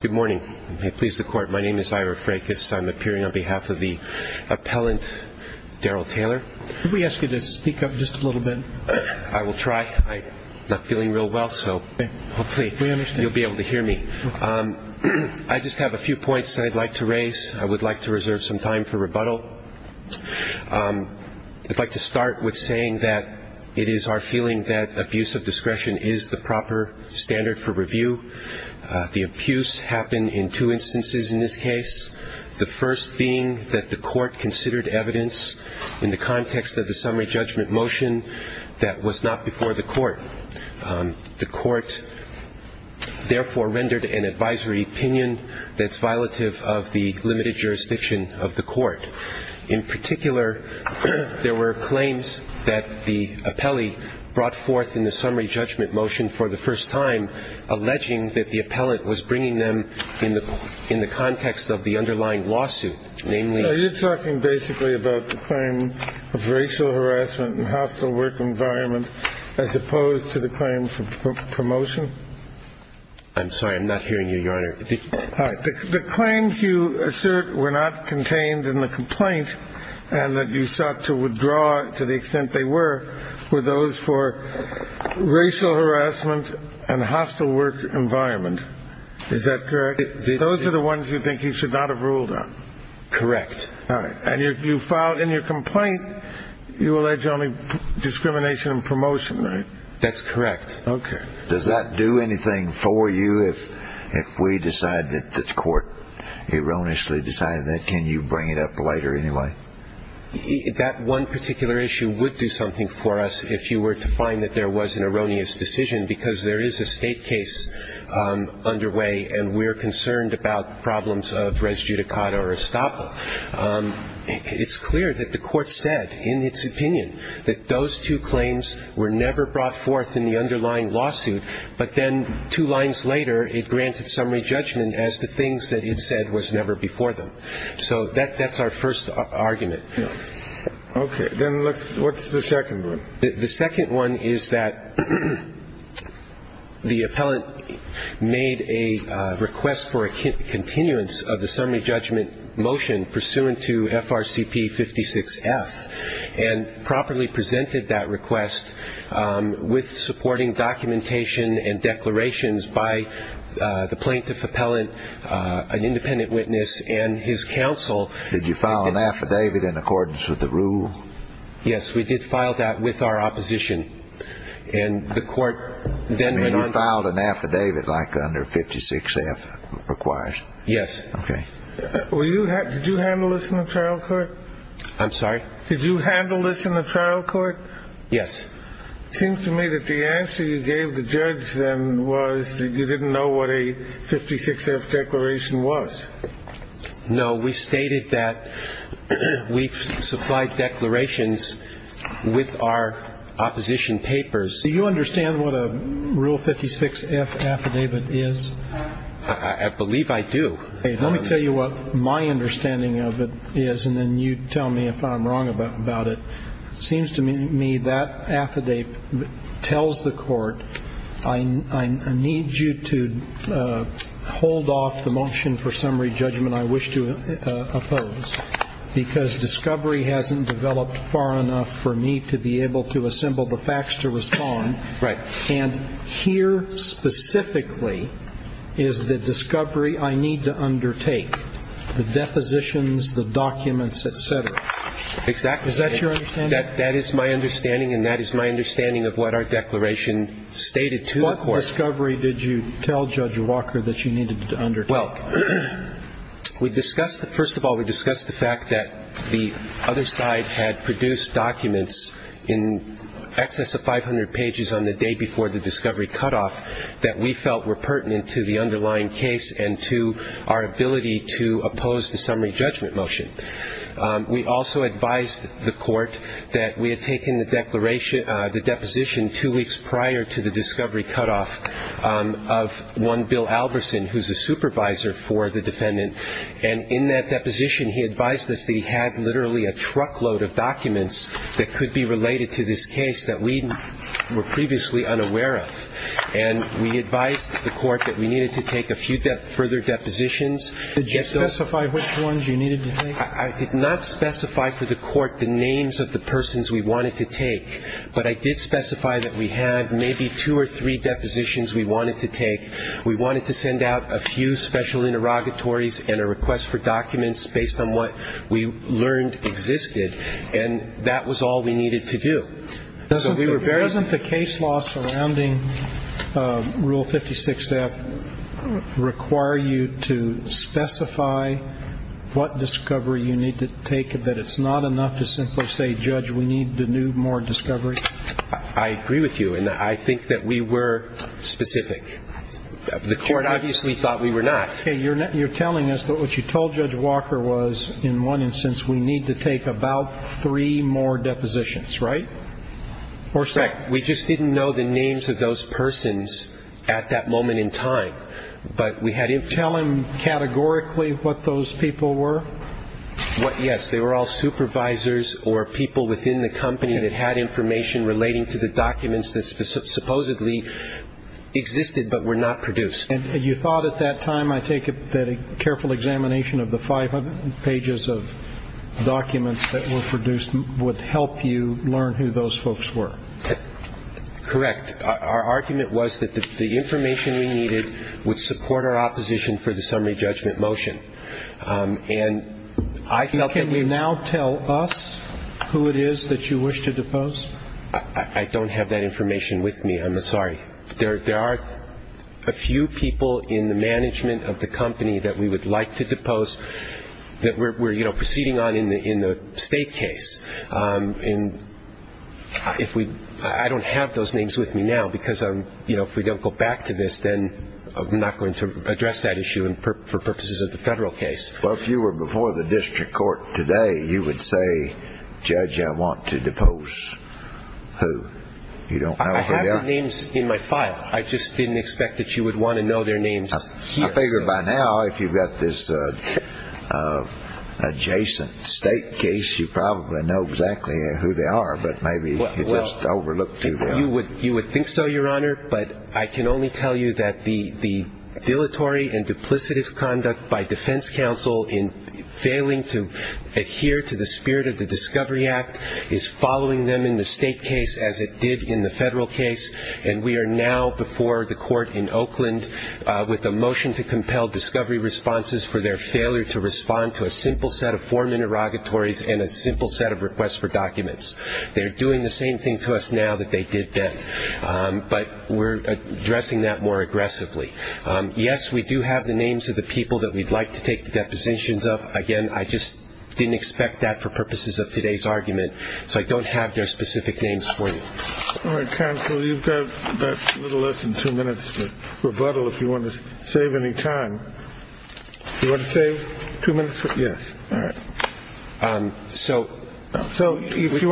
Good morning. And may it please the Court, my name is Ira Frakis. I'm appearing on behalf of the appellant, Daryl Taylor. Could we ask you to speak up just a little bit? I will try. I'm not feeling real well, so hopefully you'll be able to hear me. I just have a few points that I'd like to raise. I would like to reserve some time for rebuttal. I'd like to start with saying that it is our feeling that abuse of discretion is the proper standard for review. The abuse happened in two instances in this case. The first being that the Court considered evidence in the context of the summary judgment motion that was not before the Court. The Court therefore rendered an advisory opinion that's violative of the limited jurisdiction of the Court. In particular, there were claims that the appellee brought forth in the summary judgment motion for the first time, alleging that the appellant was bringing them in the context of the underlying lawsuit. You're talking basically about the claim of racial harassment and hostile work environment as opposed to the claim for promotion? I'm sorry. I'm not hearing you, Your Honor. The claims you assert were not contained in the complaint and that you sought to withdraw to the extent they were, were those for racial harassment and hostile work environment. Is that correct? Those are the ones you think you should not have ruled on? Correct. All right. And you filed in your complaint, you allege only discrimination and promotion, right? That's correct. Okay. Does that do anything for you if we decide that the Court erroneously decided that? Can you bring it up later anyway? That one particular issue would do something for us if you were to find that there was an erroneous decision because there is a State case underway and we're concerned about problems of res judicata or estapa. It's clear that the Court said in its opinion that those two claims were never brought forth in the underlying lawsuit, but then two lines later it granted summary judgment as the things that it said was never before them. So that's our first argument. Okay. Then let's, what's the second one? The second one is that the appellant made a request for a continuance of the summary judgment motion pursuant to FRCP 56F and properly presented that request with supporting documentation and declarations by the plaintiff appellant, an independent witness, and his counsel. Did you file an affidavit in accordance with the rule? Yes, we did file that with our opposition. And the Court then went on... You filed an affidavit like under 56F requires? Yes. Okay. Did you handle this in the trial court? I'm sorry? Did you handle this in the trial court? Yes. It seems to me that the answer you gave the judge then was that you didn't know what a 56F declaration was. No. We stated that we supplied declarations with our opposition papers. Do you understand what a Rule 56F affidavit is? I believe I do. Okay. Let me tell you what my understanding of it is, and then you tell me if I'm wrong about it. It seems to me that affidavit tells the Court I need you to hold off the motion for summary judgment I wish to oppose because discovery hasn't developed far enough for me to be able to assemble the facts to respond. Right. And here specifically is the discovery I need to undertake, the depositions, the documents, et cetera. Exactly. Is that your understanding? That is my understanding, and that is my understanding of what our declaration stated to the Court. What discovery did you tell Judge Walker that you needed to undertake? Well, we discussed the ‑‑ first of all, we discussed the fact that the other side had produced documents in excess of 500 pages on the day before the discovery cutoff that we felt were pertinent to the underlying case and to our ability to oppose the summary judgment motion. We also advised the Court that we had taken the deposition two weeks prior to the discovery cutoff of one Bill Albertson, who's a supervisor for the defendant, and in that deposition he advised us that he had literally a truckload of documents that could be related to this case that we were previously unaware of. And we advised the Court that we needed to take a few further depositions. Did you specify which ones you needed to take? I did not specify for the Court the names of the persons we wanted to take, but I did specify that we had maybe two or three depositions we wanted to take. We wanted to send out a few special interrogatories and a request for documents based on what we learned existed, and that was all we needed to do. Doesn't the case law surrounding Rule 56F require you to specify what discovery you need to take, that it's not enough to simply say, Judge, we need to do more discovery? I agree with you, and I think that we were specific. The Court obviously thought we were not. Okay. You're telling us that what you told Judge Walker was in one instance we need to take about three more depositions, right? Correct. We just didn't know the names of those persons at that moment in time, but we had information. Tell him categorically what those people were? Yes, they were all supervisors or people within the company that had information relating to the documents that supposedly existed but were not produced. And you thought at that time, I take it, of the 500 pages of documents that were produced would help you learn who those folks were? Correct. Our argument was that the information we needed would support our opposition for the summary judgment motion. And I felt that we needed to know. Can you now tell us who it is that you wish to depose? I don't have that information with me. I'm sorry. There are a few people in the management of the company that we would like to depose that we're proceeding on in the state case. I don't have those names with me now because if we don't go back to this, then I'm not going to address that issue for purposes of the federal case. Well, if you were before the district court today, you would say, Judge, I want to depose who? I have the names in my file. I just didn't expect that you would want to know their names. I figure by now, if you've got this adjacent state case, you probably know exactly who they are, but maybe you just overlooked too well. You would think so, Your Honor, but I can only tell you that the dilatory and duplicative conduct by defense counsel in failing to adhere to the spirit of the Discovery Act is following them in the state case as it did in the federal case, and we are now before the court in Oakland with a motion to compel Discovery Responses for their failure to respond to a simple set of form interrogatories and a simple set of requests for documents. They're doing the same thing to us now that they did then, but we're addressing that more aggressively. Yes, we do have the names of the people that we'd like to take the depositions of. Again, I just didn't expect that for purposes of today's argument, so I don't have their specific names for you. All right, counsel, you've got a little less than two minutes for rebuttal if you want to save any time. You want to save two minutes? Yes. So if you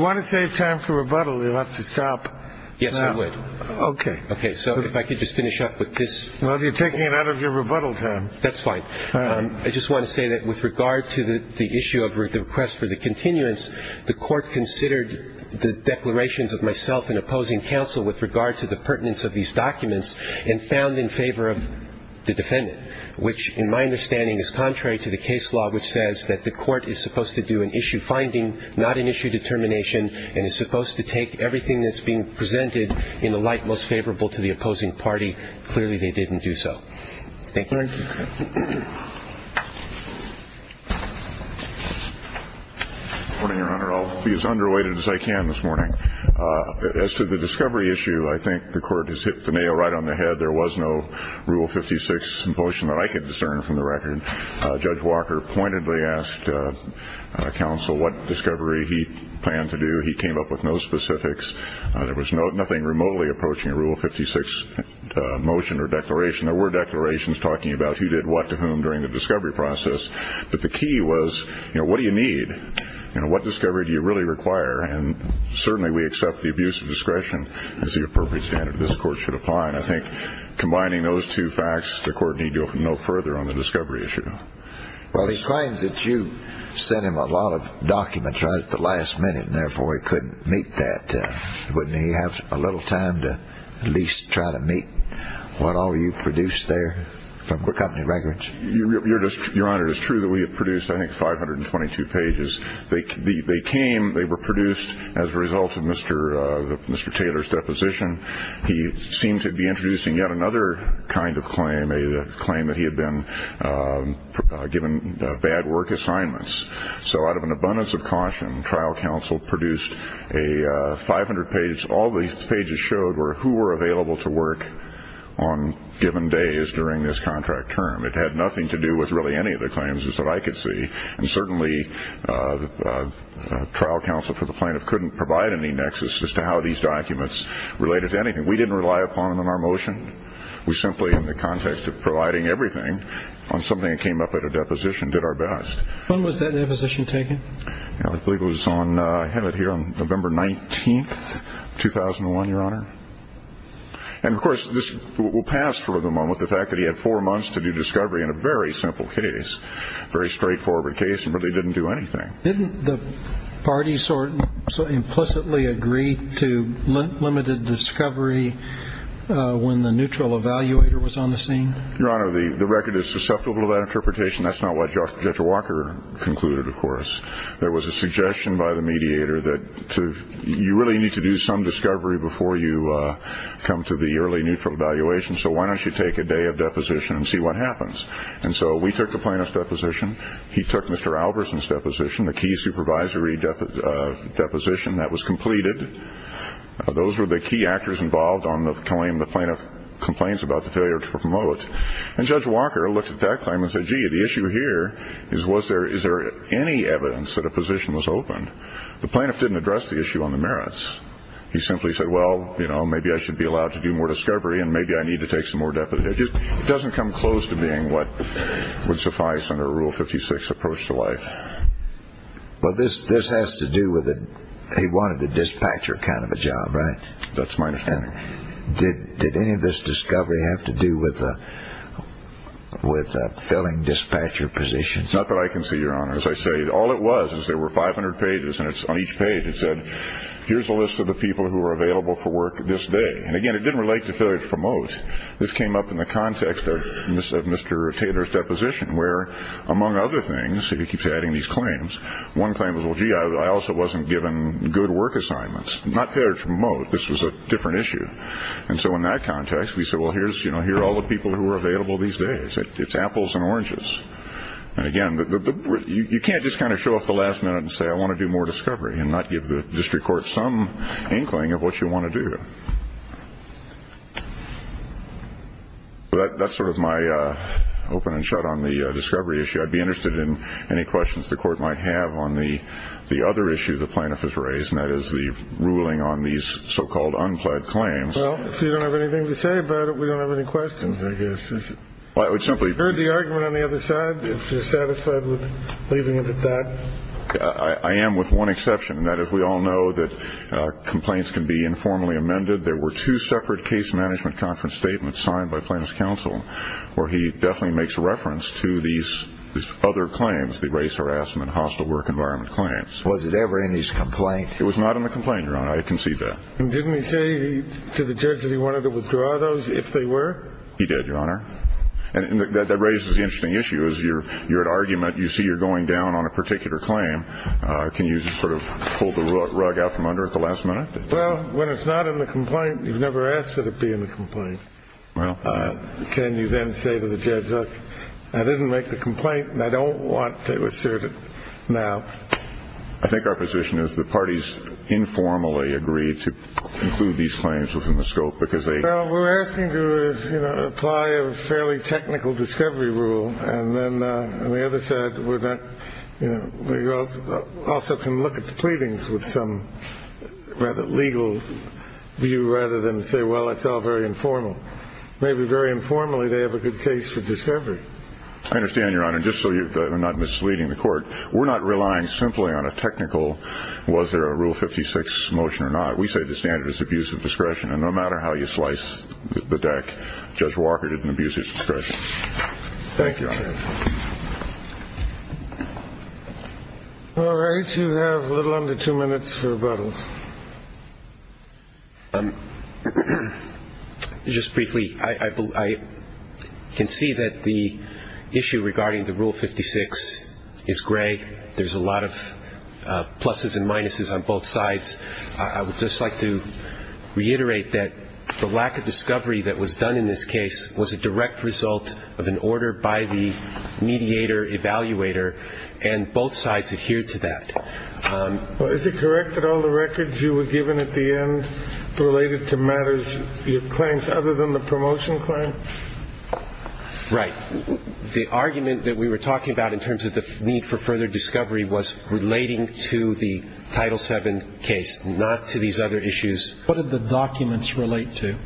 want to save time for rebuttal, you'll have to stop. Yes, I would. Okay. Okay, so if I could just finish up with this. Well, you're taking it out of your rebuttal time. That's fine. I just want to say that with regard to the issue of the request for the continuance, the court considered the declarations of myself and opposing counsel with regard to the pertinence of these documents and found in favor of the defendant, which in my understanding is contrary to the case law, which says that the court is supposed to do an issue finding, not an issue determination, and is supposed to take everything that's being presented in the light most favorable to the opposing party. Clearly, they didn't do so. Thank you. Thank you. Good morning, Your Honor. I'll be as underweighted as I can this morning. As to the discovery issue, I think the court has hit the nail right on the head. There was no Rule 56 motion that I could discern from the record. Judge Walker pointedly asked counsel what discovery he planned to do. He came up with no specifics. There was nothing remotely approaching a Rule 56 motion or declaration. There were declarations talking about who did what to whom during the discovery process. But the key was, you know, what do you need? You know, what discovery do you really require? And certainly we accept the abuse of discretion as the appropriate standard this court should apply. And I think combining those two facts, the court need to go no further on the discovery issue. Well, he claims that you sent him a lot of documents right at the last minute, and therefore he couldn't meet that. Wouldn't he have a little time to at least try to meet what all you produced there from company records? Your Honor, it is true that we have produced, I think, 522 pages. They came, they were produced as a result of Mr. Taylor's deposition. He seemed to be introducing yet another kind of claim, a claim that he had been given bad work assignments. So out of an abundance of caution, trial counsel produced 500 pages. All these pages showed were who were available to work on given days during this contract term. It had nothing to do with really any of the claims that I could see. And certainly trial counsel for the plaintiff couldn't provide any nexus as to how these documents related to anything. We didn't rely upon them in our motion. We simply, in the context of providing everything on something that came up at a deposition, did our best. When was that deposition taken? I believe it was on, I have it here, on November 19th, 2001, Your Honor. And, of course, this will pass for the moment, the fact that he had four months to do discovery in a very simple case, a very straightforward case and really didn't do anything. Didn't the parties implicitly agree to limited discovery when the neutral evaluator was on the scene? Your Honor, the record is susceptible to that interpretation. That's not what Judge Walker concluded, of course. There was a suggestion by the mediator that you really need to do some discovery before you come to the early neutral evaluation, so why don't you take a day of deposition and see what happens. And so we took the plaintiff's deposition. He took Mr. Albertson's deposition, the key supervisory deposition that was completed. Those were the key actors involved on the claim the plaintiff complains about the failure to promote. And Judge Walker looked at that claim and said, gee, the issue here is was there, is there any evidence that a position was open? The plaintiff didn't address the issue on the merits. He simply said, well, you know, maybe I should be allowed to do more discovery and maybe I need to take some more deposition. It doesn't come close to being what would suffice under a Rule 56 approach to life. Well, this has to do with it. He wanted a dispatcher kind of a job, right? That's my understanding. Did any of this discovery have to do with filling dispatcher positions? Not that I can see, Your Honor. As I say, all it was is there were 500 pages, and on each page it said, here's a list of the people who are available for work this day. And, again, it didn't relate to failure to promote. This came up in the context of Mr. Taylor's deposition where, among other things, he keeps adding these claims. One claim was, well, gee, I also wasn't given good work assignments. Not failure to promote. This was a different issue. And so in that context, we said, well, here are all the people who are available these days. It's apples and oranges. And, again, you can't just kind of show up at the last minute and say, I want to do more discovery and not give the district court some inkling of what you want to do. That's sort of my open and shut on the discovery issue. I'd be interested in any questions the court might have on the other issue the plaintiff has raised, and that is the ruling on these so-called unplaid claims. Well, if you don't have anything to say about it, we don't have any questions, I guess. I would simply. Have you heard the argument on the other side, if you're satisfied with leaving it at that? I am with one exception, and that is we all know that complaints can be informally amended. There were two separate case management conference statements signed by plaintiff's counsel where he definitely makes reference to these other claims, the race harassment, hostile work environment claims. Was it ever in his complaint? It was not in the complaint, Your Honor. I concede that. And didn't he say to the judge that he wanted to withdraw those if they were? He did, Your Honor. And that raises the interesting issue is you're at argument. You see you're going down on a particular claim. Can you sort of pull the rug out from under at the last minute? Well, when it's not in the complaint, you've never asked that it be in the complaint. Well. Can you then say to the judge, look, I didn't make the complaint, and I don't want to assert it now. I think our position is the parties informally agreed to include these claims within the scope because they. Well, we're asking to apply a fairly technical discovery rule. And then on the other side, we're not. We also can look at the pleadings with some rather legal view rather than say, well, it's all very informal. Maybe very informally they have a good case for discovery. I understand, Your Honor. And just so you're not misleading the court, we're not relying simply on a technical. Was there a rule 56 motion or not? We say the standard is abuse of discretion. And no matter how you slice the deck, Judge Walker didn't abuse his discretion. Thank you. All right. You have a little under two minutes for rebuttals. Just briefly, I can see that the issue regarding the rule 56 is gray. There's a lot of pluses and minuses on both sides. I would just like to reiterate that the lack of discovery that was done in this case was a direct result of an order by the mediator, evaluator, and both sides adhered to that. Is it correct that all the records you were given at the end related to matters, claims other than the promotion claim? Right. The argument that we were talking about in terms of the need for further discovery was relating to the Title VII case, not to these other issues. What did the documents relate to?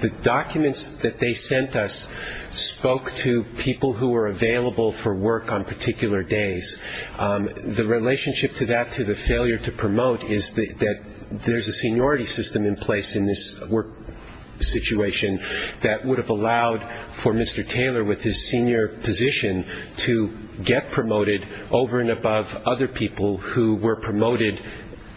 The documents that they sent us spoke to people who were available for work on particular days. The relationship to that, to the failure to promote, is that there's a seniority system in place in this work situation that would have allowed for Mr. Taylor with his senior position to get promoted over and above other people who were promoted,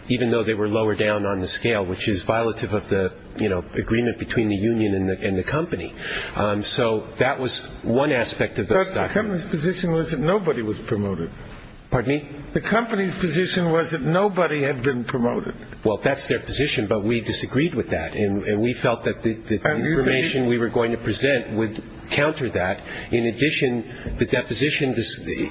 even though they were lower down on the scale, which is violative of the, you know, agreement between the union and the company. So that was one aspect of those documents. The company's position was that nobody was promoted. Pardon me? The company's position was that nobody had been promoted. Well, that's their position, but we disagreed with that, and we felt that the information we were going to present would counter that. In addition, the deposition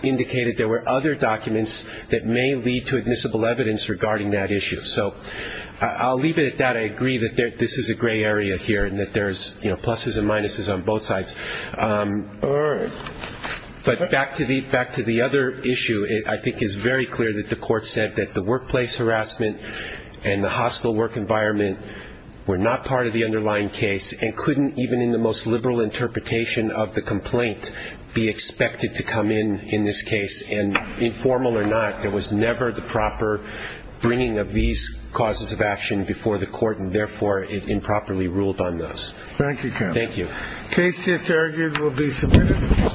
indicated there were other documents that may lead to admissible evidence regarding that issue. So I'll leave it at that. I agree that this is a gray area here and that there's, you know, pluses and minuses on both sides. But back to the other issue, I think it's very clear that the Court said that the workplace harassment and the hostile work environment were not part of the underlying case and couldn't even in the most liberal interpretation of the complaint be expected to come in in this case. And informal or not, there was never the proper bringing of these causes of action before the Court, and therefore it improperly ruled on those. Thank you, counsel. Thank you. The case is argued and will be submitted.